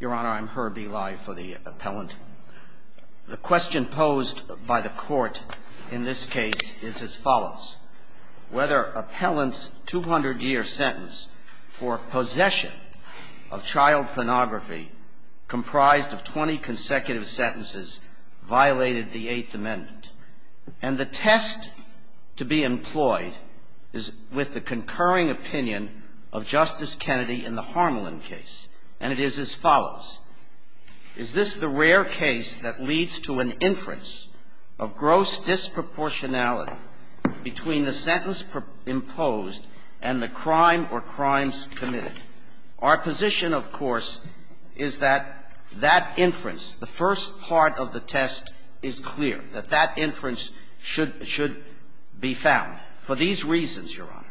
Your Honor, I'm Herbie Lye for the Appellant. The question posed by the Court in this case is as follows. Whether Appellant's 200-year sentence for possession of child pornography comprised of 20 consecutive sentences violated the Eighth Amendment. And the test to be employed is with the concurring opinion of Justice Kennedy in the Harmelin case. And it is as follows. Is this the rare case that leads to an inference of gross disproportionality between the sentence imposed and the crime or crimes committed? Our position, of course, is that that inference, the first part of the test is clear, that that inference should be found. For these reasons, Your Honor,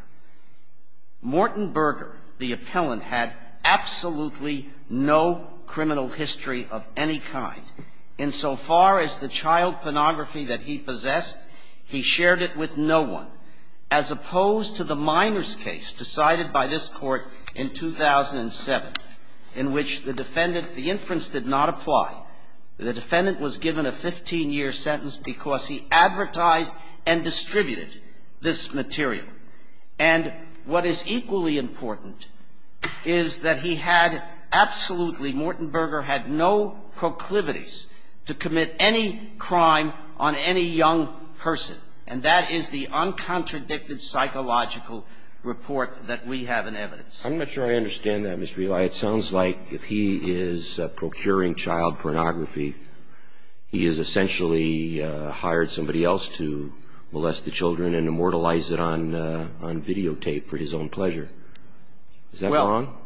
Morton Berger, the Appellant, had absolutely no criminal history of any kind. Insofar as the child pornography that he possessed, he shared it with no one. As opposed to the Miners case decided by this Court in 2007, in which the defendant the inference did not apply. The defendant was given a 15-year sentence because he advertised and distributed this material. And what is equally important is that he had absolutely, Morton Berger had no proclivities to commit any crime on any young person. And that is the uncontradicted psychological report that we have in evidence. I'm not sure I understand that, Mr. Ely. It sounds like if he is procuring child pornography, he has essentially hired somebody else to molest the children and immortalize it on videotape for his own pleasure. Is that wrong? Well,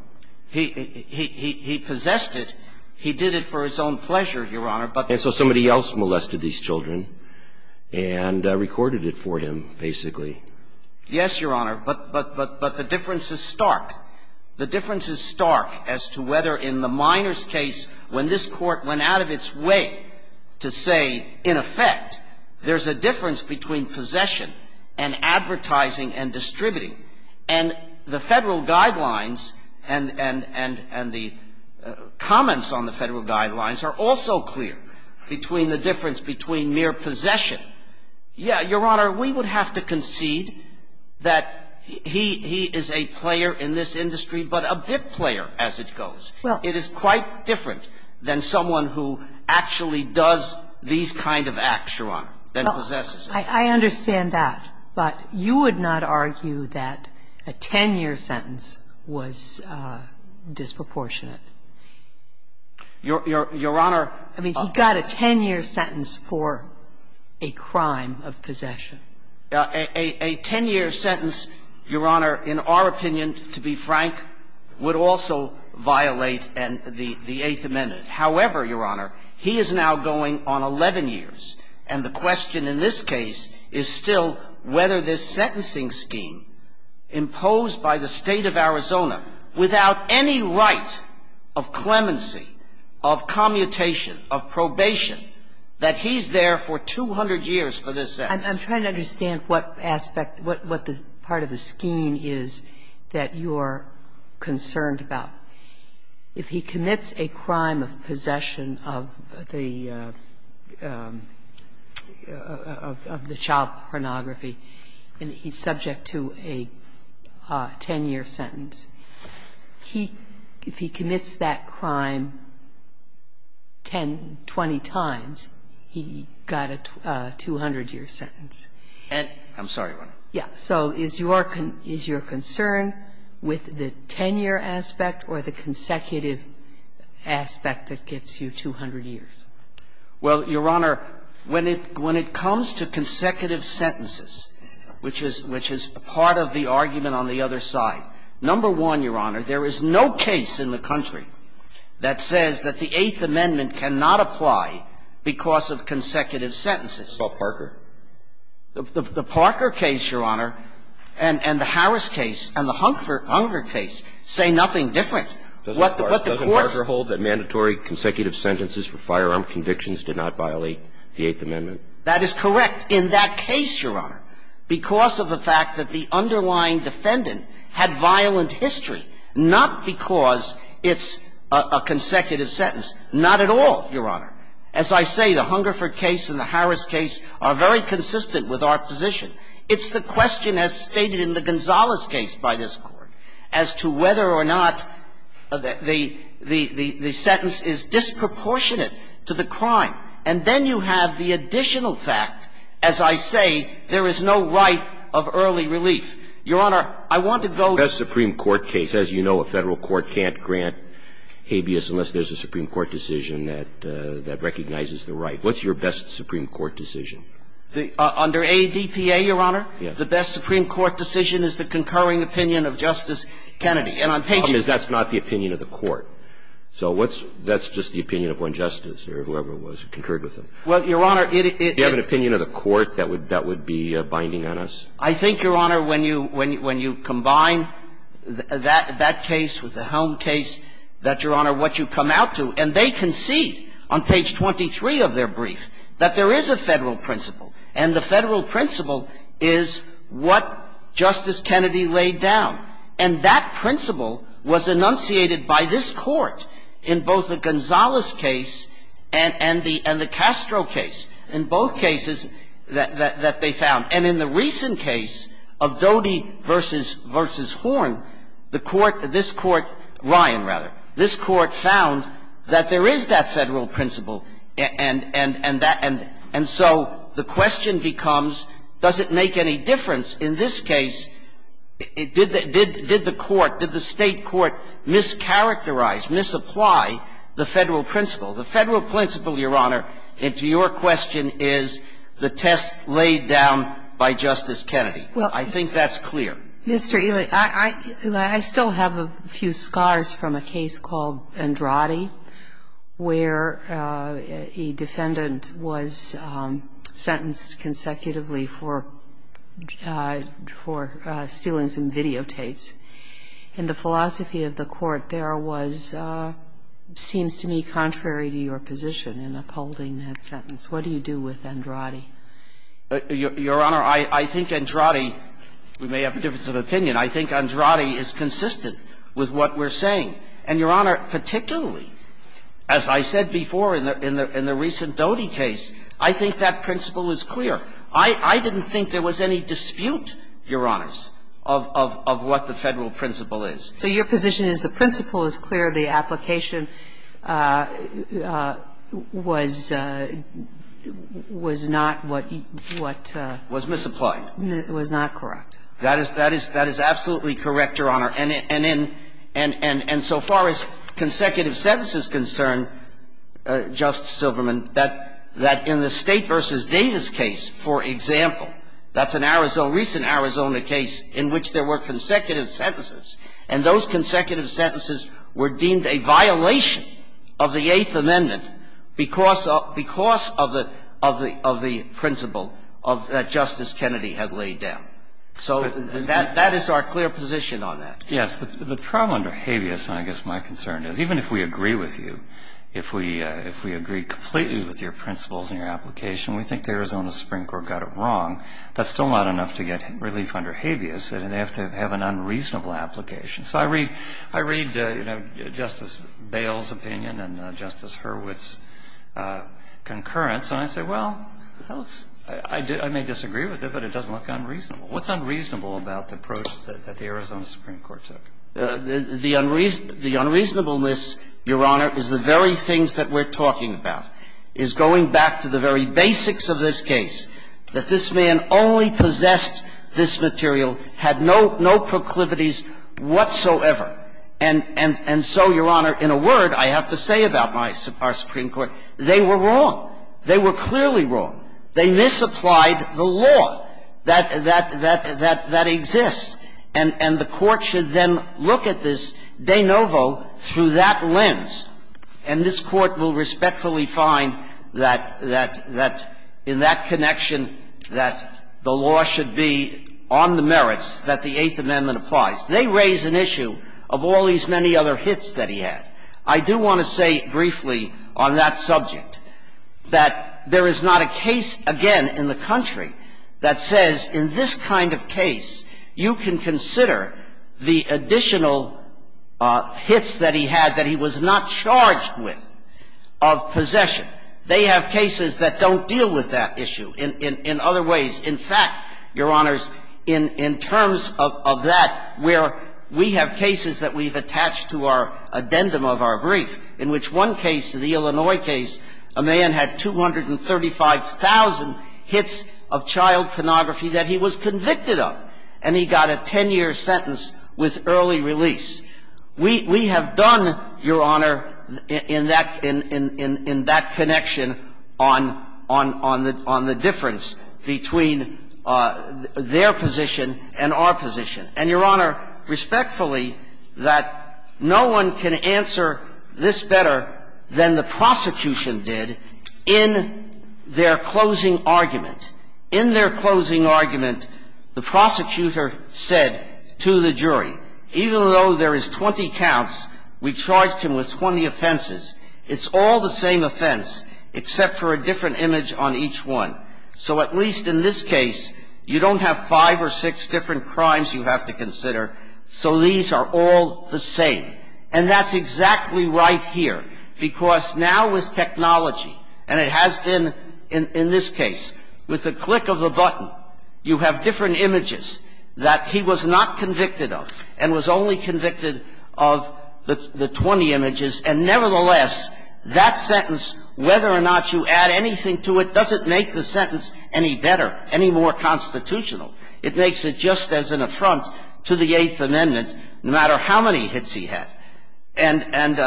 he possessed it. He did it for his own pleasure, Your Honor. And so somebody else molested these children and recorded it for him, basically. Yes, Your Honor. But the difference is stark. The difference is stark as to whether in the Miners case, when this Court went out of its way to say, in effect, there's a difference between possession and advertising and distributing. And the Federal guidelines and the comments on the Federal guidelines are also clear between the difference between mere possession. Yes, Your Honor, we would have to concede that he is a player in this industry, but a bit player as it goes. It is quite different than someone who actually does these kind of acts, Your Honor, than possesses them. I understand that. But you would not argue that a 10-year sentence was disproportionate? Your Honor, I mean, he got a 10-year sentence for a 10-year sentence. And that is a crime of possession. A 10-year sentence, Your Honor, in our opinion, to be frank, would also violate the Eighth Amendment. However, Your Honor, he is now going on 11 years. And the question in this case is still whether this sentencing scheme imposed by the State of Arizona, without any right of clemency, of commutation, of probation, that he's there for 200 years for this sentence. I'm trying to understand what aspect, what part of the scheme is that you're concerned about. If he commits a crime of possession of the child pornography and he's subject to a 10-year sentence, if he commits that crime 10, 20 times, he got a 200-year sentence. I'm sorry, Your Honor. Yes. So is your concern with the 10-year aspect or the consecutive aspect that gets you 200 years? Well, Your Honor, when it comes to consecutive sentences, which is part of the argument on the other side, number one, Your Honor, there is no case in the country that says that the Eighth Amendment cannot apply because of consecutive sentences. What about Parker? The Parker case, Your Honor, and the Harris case and the Hunger case say nothing different. Doesn't Parker hold that mandatory consecutive sentences for firearm convictions did not violate the Eighth Amendment? That is correct in that case, Your Honor, because of the fact that the underlying defendant had violent history, not because it's a consecutive sentence, not at all, Your Honor. As I say, the Hungerford case and the Harris case are very consistent with our position. It's the question as stated in the Gonzalez case by this Court as to whether or not the sentence is disproportionate to the crime. And then you have the additional fact, as I say, there is no right of early relief. Your Honor, I want to go to the Supreme Court case. As you know, a Federal court can't grant habeas unless there's a Supreme Court decision that recognizes the right. What's your best Supreme Court decision? Under ADPA, Your Honor, the best Supreme Court decision is the concurring opinion of Justice Kennedy. And on page 23 of their brief, that's not the opinion of the court. So what's the opinion of one justice or whoever was concurred with them? Well, Your Honor, it is the opinion of the court that would be binding on us? I think, Your Honor, when you combine that case with the Helm case, that, Your Honor, what you come out to, and they concede on page 23 of their brief that there is a Federal principle, and the Federal principle is what Justice Kennedy laid down. And that principle was enunciated by this Court in both the Gonzales case and the Castro case, in both cases that they found. And in the recent case of Doty v. Horn, the Court, this Court, Ryan, rather, this Court found that there is that Federal principle, and so the question becomes, does it make any difference in this case? Did the Court, did the State court mischaracterize, misapply the Federal principle? The Federal principle, Your Honor, and to your question, is the test laid down by Justice Kennedy. I think that's clear. Well, Mr. Ely, I still have a few scars from a case called Andrade where a defendant was sentenced consecutively for stealing some videotapes. In the philosophy of the Court, there was seems to me contrary to your position in upholding that sentence. What do you do with Andrade? Your Honor, I think Andrade we may have a difference of opinion. I think Andrade is consistent with what we're saying. And, Your Honor, particularly, as I said before in the recent Doty case, I think that principle is clear. I didn't think there was any dispute, Your Honors, of what the Federal principle is. So your position is the principle is clear, the application was not what you, what was misapplied. Was not correct. That is absolutely correct, Your Honor. And so far as consecutive sentences concern, Justice Silverman, that in the State v. Davis case, for example, that's a recent Arizona case in which there were consecutive sentences, and those consecutive sentences were deemed a violation of the Eighth Amendment because of the principle that Justice Kennedy had laid down. So that is our clear position on that. Yes. The problem under habeas, I guess my concern is, even if we agree with you, if we agreed completely with your principles and your application, we think the Arizona Supreme Court got it wrong, that's still not enough to get relief under habeas, and they have to have an unreasonable application. So I read, you know, Justice Bail's opinion and Justice Hurwitz's concurrence, and I say, well, I may disagree with it, but it doesn't look unreasonable. What's unreasonable about the approach that the Arizona Supreme Court took? The unreasonableness, Your Honor, is the very things that we're talking about, is going back to the very basics of this case, that this man only possessed this material, had no proclivities whatsoever. And so, Your Honor, in a word, I have to say about our Supreme Court, they were wrong. They were clearly wrong. They misapplied the law that exists, and the Court should then look at this de novo through that lens, and this Court will respectfully find that in that connection that the law should be on the merits that the Eighth Amendment applies. They raise an issue of all these many other hits that he had. I do want to say briefly on that subject that there is not a case, again, in the country that says in this kind of case you can consider the additional hits that he had that he was not charged with of possession. They have cases that don't deal with that issue in other ways. In fact, Your Honors, in terms of that, where we have cases that we've attached to our addendum of our brief, in which one case, the Illinois case, a man had 235,000 hits of child pornography that he was convicted of, and he got a 10-year sentence with early release, we have done, Your Honor, in that connection, on the difference between their position and our position. And, Your Honor, respectfully, that no one can answer this better than the prosecution did in their closing argument. In their closing argument, the prosecutor said to the jury, even though there is 20 counts, we charged him with 20 offenses. It's all the same offense, except for a different image on each one. So at least in this case, you don't have five or six different crimes you have to consider, so these are all the same. And that's exactly right here. Because now with technology, and it has been in this case, with the click of the button, you have different images that he was not convicted of and was only convicted of the 20 images, and nevertheless, that sentence, whether or not you add anything to it, doesn't make the sentence any better, any more constitutional. It makes it just as an affront to the Eighth Amendment, no matter how many hits he had. And,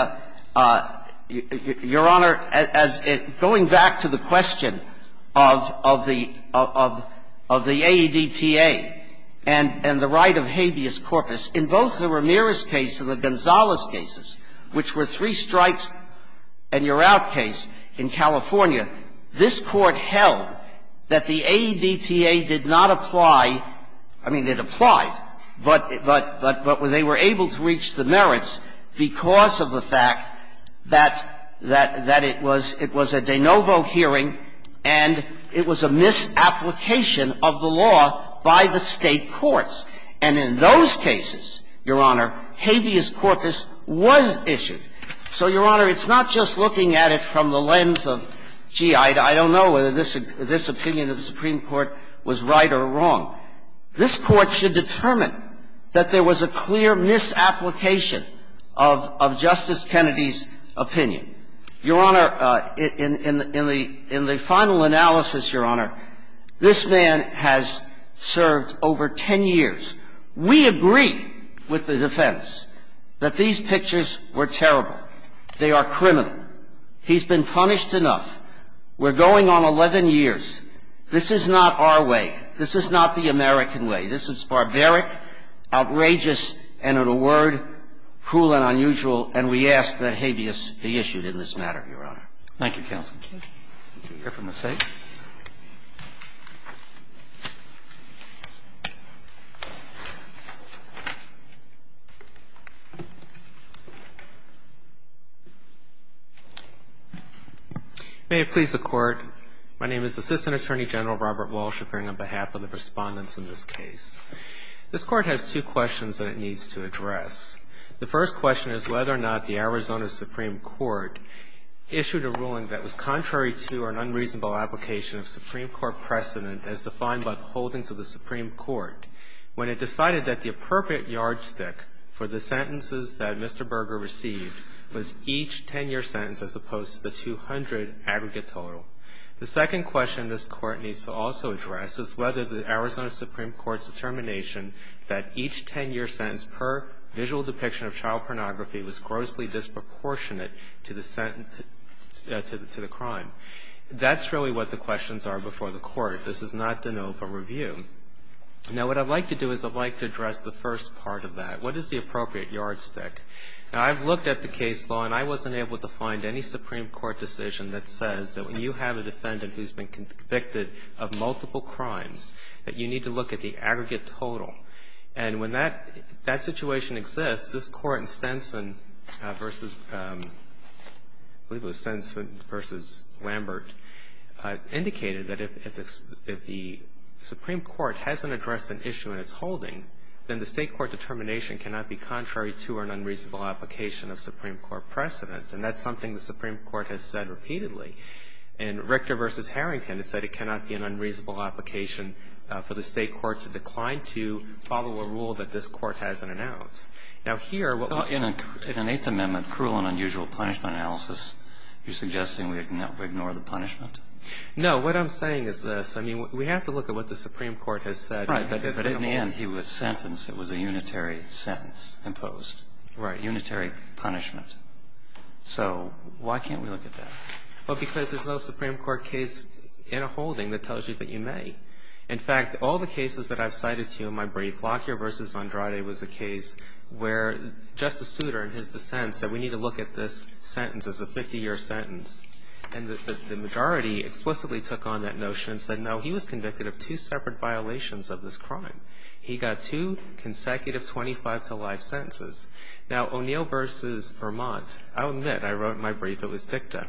Your Honor, going back to the question of the AEDPA and the right of habeas corpus, in both the Ramirez case and the Gonzalez cases, which were three strikes and you're out case in California, this Court held that the AEDPA did not apply ‑‑ I mean, it applied, but they were able to reach the merits because of the fact that it was a de novo hearing and it was a misapplication of the law by the State courts. And in those cases, Your Honor, habeas corpus was issued. So, Your Honor, it's not just looking at it from the lens of, gee, I don't know whether this opinion of the Supreme Court was right or wrong. This Court should determine that there was a clear misapplication of Justice Kennedy's opinion. Your Honor, in the final analysis, Your Honor, this man has served over ten years. We agree with the defense that these pictures were terrible. They are criminal. He's been punished enough. We're going on 11 years. This is not our way. This is not the American way. This is barbaric, outrageous, and, in a word, cruel and unusual, and we ask that habeas be issued in this matter, Your Honor. Thank you, counsel. Thank you. Let's hear from the State. May it please the Court. My name is Assistant Attorney General Robert Walsh appearing on behalf of the Respondents in this case. This Court has two questions that it needs to address. The first question is whether or not the Arizona Supreme Court issued a ruling that was contrary to or an unreasonable application of Supreme Court precedent as defined by the holdings of the Supreme Court when it decided that the appropriate yardstick for the sentences that Mr. Berger received was each 10-year sentence as opposed to the 200 aggregate total. The second question this Court needs to also address is whether the Arizona Supreme Court's determination that each 10-year sentence per visual depiction of child pornography was grossly disproportionate to the crime. That's really what the questions are before the Court. This is not de novo review. Now, what I'd like to do is I'd like to address the first part of that. What is the appropriate yardstick? Now, I've looked at the case law, and I wasn't able to find any Supreme Court decision that says that when you have a defendant who's been convicted of multiple crimes, that you need to look at the aggregate total. And when that situation exists, this Court in Stenson versus, I believe it was Stenson versus Lambert, indicated that if the Supreme Court hasn't addressed an issue in its holding, then the State court determination cannot be contrary to or an unreasonable application of Supreme Court precedent. And that's something the Supreme Court has said repeatedly. In Richter v. Harrington, it said it cannot be an unreasonable application for the State court to decline to follow a rule that this Court hasn't announced. Now, here, what we're going to do. So in an Eighth Amendment cruel and unusual punishment analysis, you're suggesting we ignore the punishment? No. What I'm saying is this. I mean, we have to look at what the Supreme Court has said. Right. But in the end, he was sentenced. It was a unitary sentence imposed. Right. Unitary punishment. So why can't we look at that? Well, because there's no Supreme Court case in a holding that tells you that you may. In fact, all the cases that I've cited to you in my brief, Lockyer v. Andrade was a case where Justice Souter, in his dissent, said we need to look at this sentence as a 50-year sentence. And the majority explicitly took on that notion and said, no, he was convicted of two separate violations of this crime. He got two consecutive 25-to-life sentences. Now, O'Neill v. Vermont. I'll admit, I wrote in my brief it was dicta.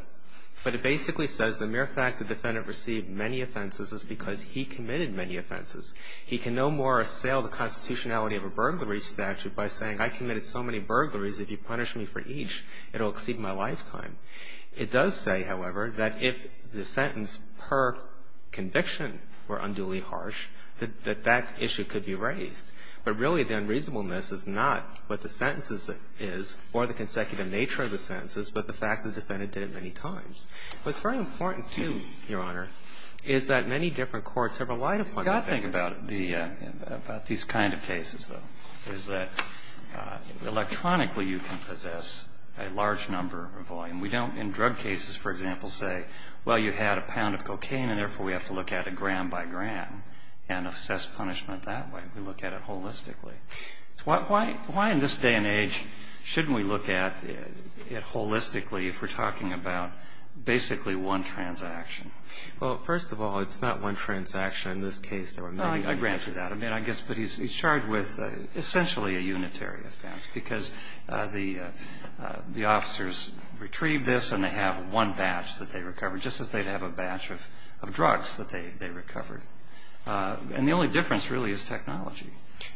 But it basically says the mere fact the defendant received many offenses is because he committed many offenses. He can no more assail the constitutionality of a burglary statute by saying, I committed so many burglaries, if you punish me for each, it'll exceed my lifetime. It does say, however, that if the sentence per conviction were unduly harsh, that that issue could be raised. But really, the unreasonableness is not what the sentences is or the consecutive nature of the sentences, but the fact the defendant did it many times. What's very important, too, Your Honor, is that many different courts have relied upon that. We've got to think about these kind of cases, though, is that electronically you can possess a large number or volume. We don't, in drug cases, for example, say, well, you had a pound of cocaine, and therefore we have to look at it gram by gram and assess punishment that way. We look at it holistically. Why in this day and age shouldn't we look at it holistically if we're talking about basically one transaction? Well, first of all, it's not one transaction. In this case, there were many offenses. I grant you that. I mean, I guess, but he's charged with essentially a unitary offense because the officers retrieved this, and they have one batch that they recovered, just as they'd have a batch of drugs that they recovered. And the only difference really is technology.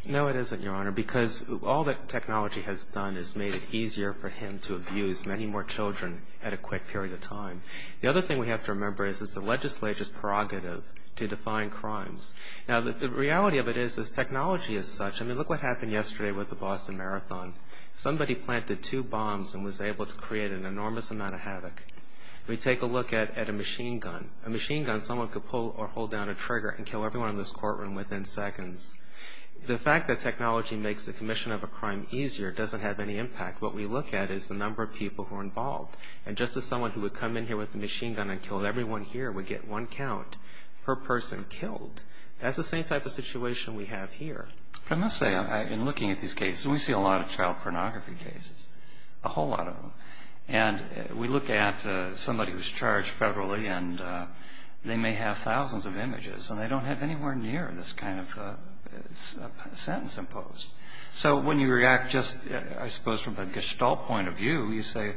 No, it isn't, Your Honor, because all that technology has done is made it easier for him to abuse many more children at a quick period of time. The other thing we have to remember is it's the legislature's prerogative to define crimes. Now, the reality of it is this technology is such. I mean, look what happened yesterday with the Boston Marathon. Somebody planted two bombs and was able to create an enormous amount of havoc. We take a look at a machine gun. A machine gun, someone could pull or hold down a trigger and kill everyone in this courtroom within seconds. The fact that technology makes the commission of a crime easier doesn't have any impact. What we look at is the number of people who are involved. And just as someone who would come in here with a machine gun and kill everyone here would get one count per person killed, that's the same type of situation we have here. But I must say, in looking at these cases, we see a lot of child pornography cases, a whole lot of them. And we look at somebody who's charged federally, and they may have thousands of images, and they don't have anywhere near this kind of sentence imposed. So when you react just, I suppose, from a gestalt point of view, you say,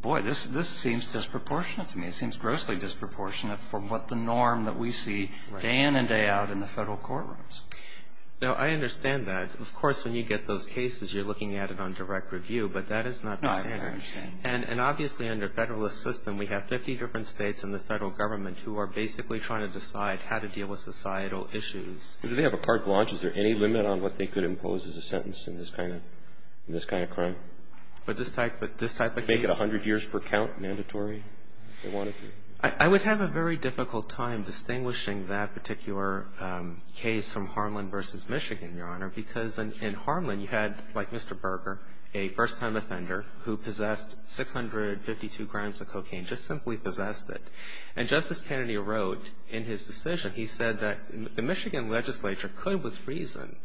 boy, this seems disproportionate to me. It seems grossly disproportionate from what the norm that we see day in and day out in the federal courtrooms. Now, I understand that. Of course, when you get those cases, you're looking at it on direct review, but that is not the standard. I understand. And obviously, under Federalist system, we have 50 different States and the Federal Government who are basically trying to decide how to deal with societal issues. Do they have a carte blanche? Is there any limit on what they could impose as a sentence in this kind of crime? With this type of case? Make it 100 years per count mandatory if they wanted to? I would have a very difficult time distinguishing that particular case from Harlan v. Michigan, Your Honor, because in Harlan you had, like Mr. Berger, a first-time offender who possessed 652 grams of cocaine, just simply possessed it. And Justice Kennedy wrote in his decision, he said that the Michigan legislature could with reason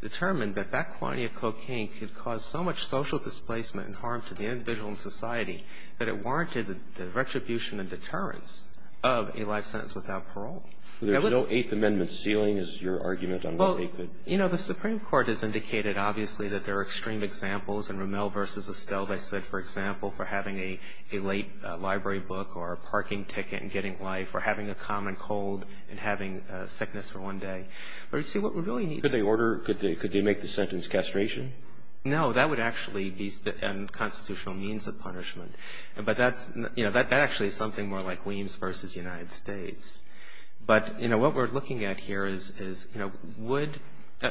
determine that that quantity of cocaine could cause so much social displacement and harm to the individual and society that it warranted the retribution and deterrence of a life sentence without parole. There's no Eighth Amendment ceiling is your argument on what they could? Well, you know, the Supreme Court has indicated, obviously, that there are extreme examples, and Rommel v. Estelle, they said, for example, for having a late library book or a parking ticket and getting life, or having a common cold and having sickness for one day. But, you see, what we really need to do to make the sentence castration? No. That would actually be a constitutional means of punishment. But that's, you know, that actually is something more like Weems v. United States. But, you know, what we're looking at here is, you know, would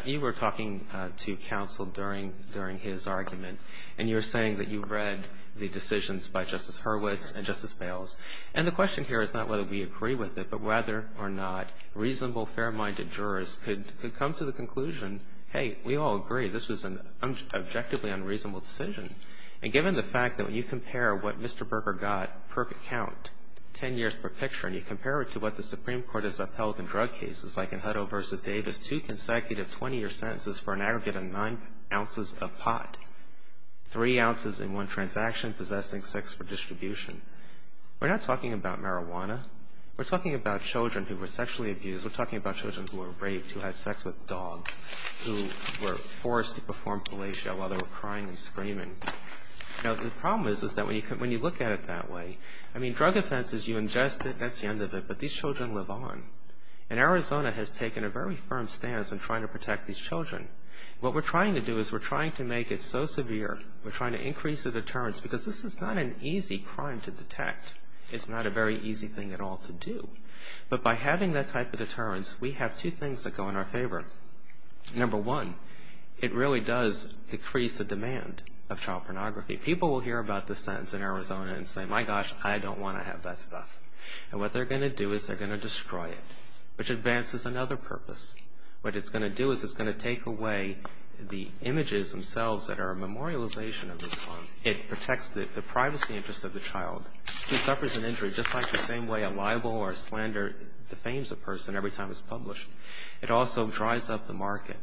you were talking to counsel during his argument, and you were saying that you read the decisions by Justice Hurwitz and Justice Bales, and the question here is not whether we agree with it, but whether or not reasonable, fair-minded jurors could come to the conclusion, hey, we all agree this was an objectively unreasonable decision. And given the fact that when you compare what Mr. Berger got per account, 10 years per picture, and you compare it to what the Supreme Court has upheld in drug cases, like in Hutto v. Davis, two consecutive 20-year sentences for an aggregate of nine ounces of pot. Three ounces in one transaction, possessing sex for distribution. We're not talking about marijuana. We're talking about children who were sexually abused. We're talking about children who were raped, who had sex with dogs, who were forced to perform fellatio while they were crying and screaming. You know, the problem is, is that when you look at it that way, I mean, drug offense is you ingest it, that's the end of it, but these children live on. And Arizona has taken a very firm stance in trying to protect these children. What we're trying to do is we're trying to make it so severe, we're trying to increase the deterrence, because this is not an easy crime to detect. It's not a very easy thing at all to do. But by having that type of deterrence, we have two things that go in our favor. Number one, it really does decrease the demand of child pornography. People will hear about this sentence in Arizona and say, my gosh, I don't want to have that stuff. And what they're going to do is they're going to destroy it, which advances another purpose. What it's going to do is it's going to take away the images themselves that are a memorialization of this crime. It protects the privacy interests of the child who suffers an injury, just like the same way a libel or a slander defames a person every time it's published. It also dries up the market.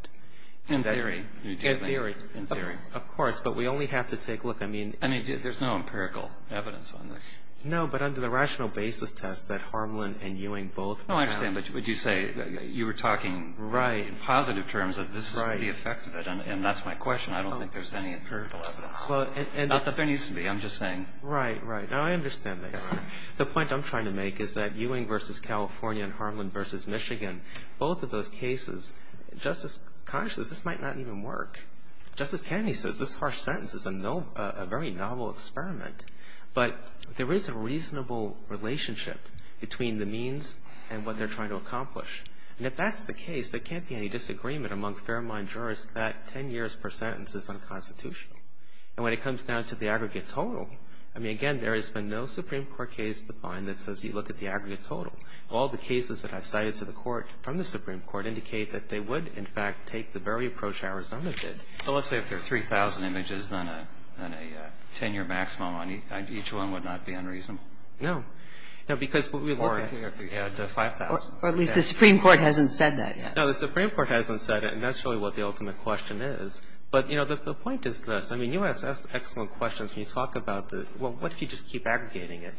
And theory. And theory. And theory. Of course. But we only have to take a look. I mean. I mean, there's no empirical evidence on this. No, but under the rational basis test that Harmland and Ewing both. No, I understand. But would you say you were talking in positive terms of this is the effect of it. Right. And that's my question. I don't think there's any empirical evidence. Not that there needs to be. I'm just saying. Right. Right. Now, I understand that. The point I'm trying to make is that Ewing v. California and Harmland v. Michigan, both of those cases, Justice Congress says this might not even work. Justice Kennedy says this harsh sentence is a very novel experiment. But there is a reasonable relationship between the means and what they're trying to accomplish. And if that's the case, there can't be any disagreement among fair mind jurists that 10 years per sentence is unconstitutional. And when it comes down to the aggregate total, I mean, again, there has been no Supreme Court case defined that says you look at the aggregate total. All the cases that I've cited to the court from the Supreme Court indicate that they would, in fact, take the very approach Arizona did. So let's say if there are 3,000 images, then a 10-year maximum on each one would not be unreasonable? No. No, because what we look at the 5,000. Or at least the Supreme Court hasn't said that yet. No, the Supreme Court hasn't said it. And that's really what the ultimate question is. But, you know, the point is this. I mean, you ask excellent questions when you talk about the, well, what if you just keep aggregating it?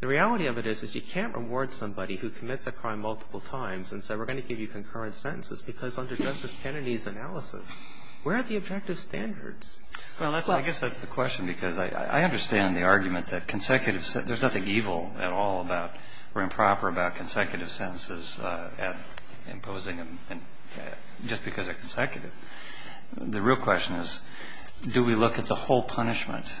The reality of it is you can't reward somebody who commits a crime multiple times and say we're going to give you concurrent sentences because under Justice Kennedy's analysis, where are the objective standards? Well, I guess that's the question because I understand the argument that consecutive sentences, there's nothing evil at all about or improper about consecutive sentences imposing them just because they're consecutive. The real question is do we look at the whole punishment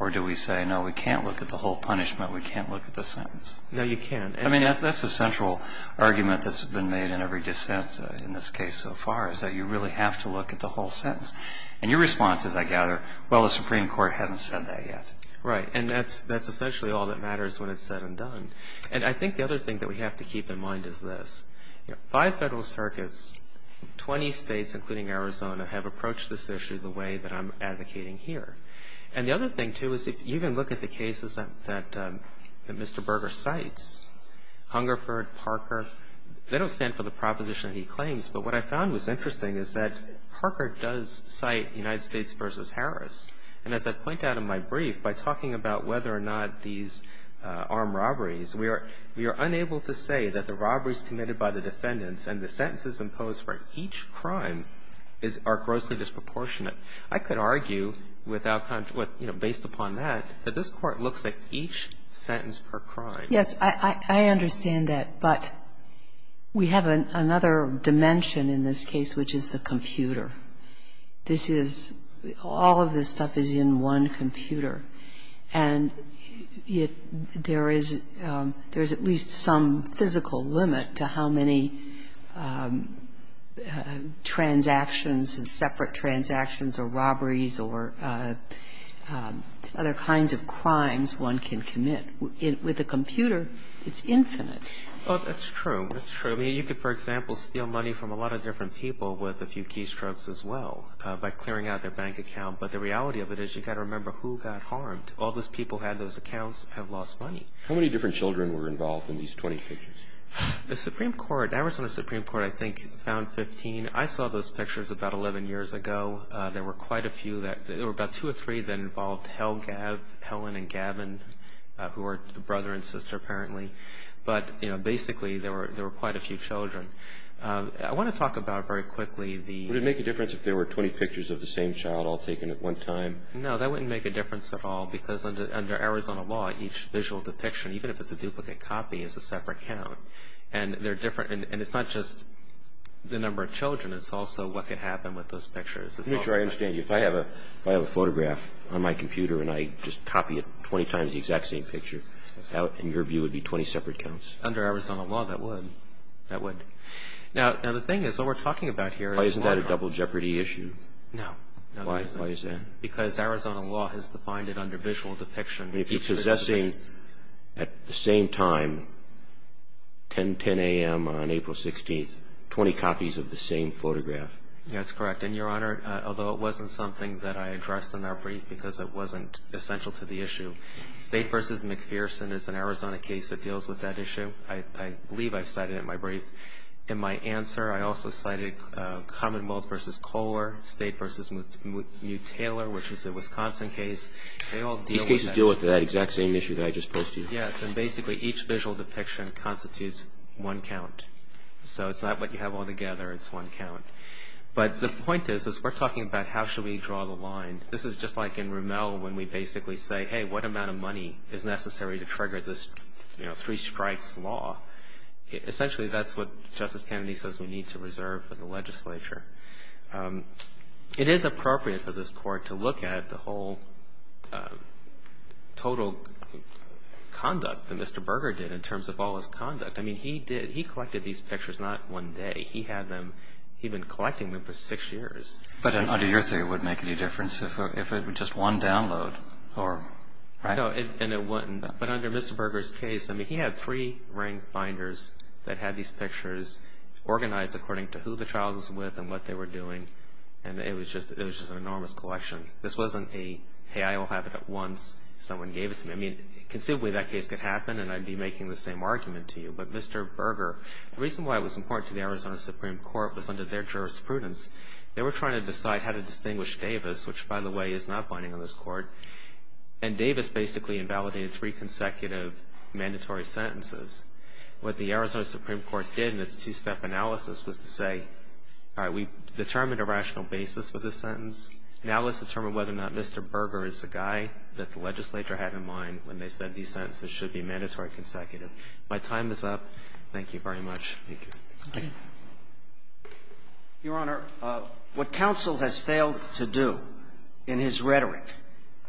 or do we say, no, we can't look at the whole punishment, we can't look at the sentence? No, you can't. I mean, that's a central argument that's been made in every dissent in this case so far is that you really have to look at the whole sentence. And your response is, I gather, well, the Supreme Court hasn't said that yet. Right. And that's essentially all that matters when it's said and done. And I think the other thing that we have to keep in mind is this. Five federal circuits, 20 states, including Arizona, have approached this issue the way that I'm advocating here. And the other thing, too, is if you even look at the cases that Mr. Berger cites, Hungerford, Parker, they don't stand for the proposition that he claims. But what I found was interesting is that Parker does cite United States v. Harris. And as I point out in my brief, by talking about whether or not these armed robberies, we are unable to say that the robberies committed by the defendants and the sentences imposed for each crime are grossly disproportionate. I could argue with outcome, you know, based upon that, that this Court looks at each sentence per crime. Yes. I understand that. But we have another dimension in this case, which is the computer. This is all of this stuff is in one computer. And there is at least some physical limit to how many transactions and separate transactions or robberies or other kinds of crimes one can commit. With a computer, it's infinite. Oh, that's true. That's true. I mean, you could, for example, steal money from a lot of different people with a few keystrokes as well by clearing out their bank account. But the reality of it is you've got to remember who got harmed. All those people who had those accounts have lost money. How many different children were involved in these 20 pictures? The Supreme Court, the Arizona Supreme Court, I think, found 15. I mean, I saw those pictures about 11 years ago. There were quite a few. There were about two or three that involved Helen and Gavin, who were brother and sister, apparently. But, you know, basically, there were quite a few children. I want to talk about very quickly the – Would it make a difference if there were 20 pictures of the same child all taken at one time? No, that wouldn't make a difference at all because under Arizona law, each visual depiction, even if it's a duplicate copy, is a separate count. And they're different. And it's not just the number of children. It's also what could happen with those pictures. Let me try to understand you. If I have a photograph on my computer and I just copy it 20 times, the exact same picture, in your view, it would be 20 separate counts? Under Arizona law, that would. That would. Now, the thing is, what we're talking about here is a lot of harm. Why isn't that a double jeopardy issue? No. Why is that? Because Arizona law has defined it under visual depiction. If you're possessing, at the same time, 10 a.m. on April 16th, 20 copies of the same photograph. That's correct. And, Your Honor, although it wasn't something that I addressed in our brief because it wasn't essential to the issue, State v. McPherson is an Arizona case that deals with that issue. I believe I've cited it in my brief. In my answer, I also cited Commonwealth v. Kohler, State v. Mutaler, which is a Wisconsin case. They all deal with that. These cases deal with that exact same issue that I just posed to you. Yes. And, basically, each visual depiction constitutes one count. So it's not what you have all together. It's one count. But the point is, is we're talking about how should we draw the line. This is just like in Rimmel when we basically say, hey, what amount of money is necessary to trigger this, you know, three strikes law? Essentially, that's what Justice Kennedy says we need to reserve for the legislature. It is appropriate for this Court to look at the whole total conduct that Mr. Berger did in terms of all his conduct. I mean, he did, he collected these pictures not one day. He had them, he'd been collecting them for six years. But under your theory, it wouldn't make any difference if it were just one download or, right? No, and it wouldn't. But under Mr. Berger's case, I mean, he had three ring finders that had these pictures organized according to who the child was with and what they were doing. And it was just an enormous collection. This wasn't a, hey, I'll have it at once, someone gave it to me. I mean, conceivably, that case could happen, and I'd be making the same argument to you. But Mr. Berger, the reason why it was important to the Arizona Supreme Court was under their jurisprudence. They were trying to decide how to distinguish Davis, which, by the way, is not binding on this Court. And Davis basically invalidated three consecutive mandatory sentences. What the Arizona Supreme Court did in its two-step analysis was to say, all right, we've determined a rational basis for this sentence. Now let's determine whether or not Mr. Berger is the guy that the legislature had in mind when they said these sentences should be mandatory consecutive. My time is up. Thank you very much. Thank you. Thank you. Your Honor, what counsel has failed to do in his rhetoric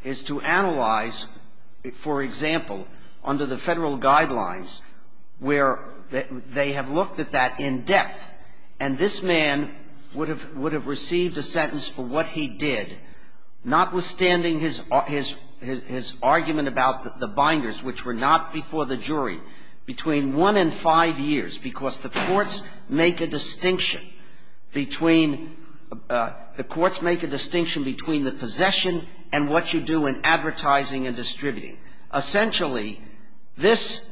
is to analyze, for example, under the Federal Guidelines, where they have looked at that in depth. And this man would have received a sentence for what he did, notwithstanding his argument about the binders, which were not before the jury, between one and five years, because the courts make a distinction between the courts make a distinction between the possession and what you do in advertising and distributing. Essentially, this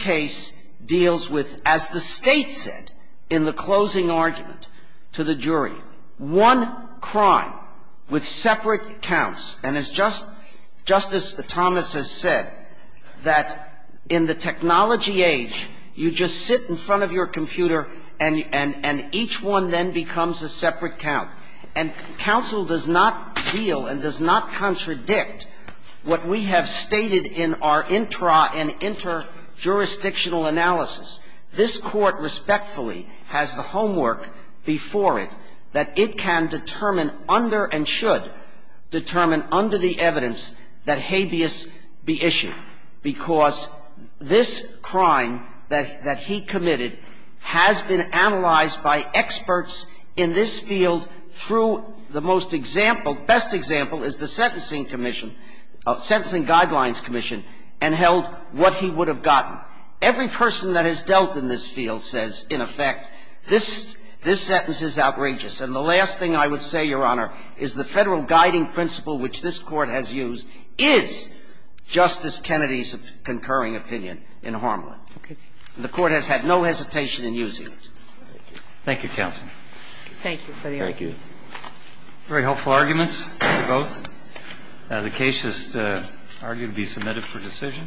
case deals with, as the State said in the closing argument to the jury, one crime with separate counts. And as Justice Thomas has said, that in the technology age, you just sit in front of your computer and each one then becomes a separate count. And counsel does not deal and does not contradict what we have stated in our intra and interjurisdictional analysis. This Court respectfully has the homework before it that it can determine under and should determine under the evidence that habeas be issued, because this crime that he committed has been analyzed by experts in this field through the most example best example is the Sentencing Commission, Sentencing Guidelines Commission, and held what he would have gotten. Every person that has dealt in this field says, in effect, this sentence is outrageous. And the last thing I would say, Your Honor, is the Federal Guiding Principle, which this Court has used, is Justice Kennedy's concurring opinion in Harmelin. And the Court has had no hesitation in using it. Thank you, counsel. Thank you. Thank you. Very helpful arguments. Thank you both. The case is argued to be submitted for decision.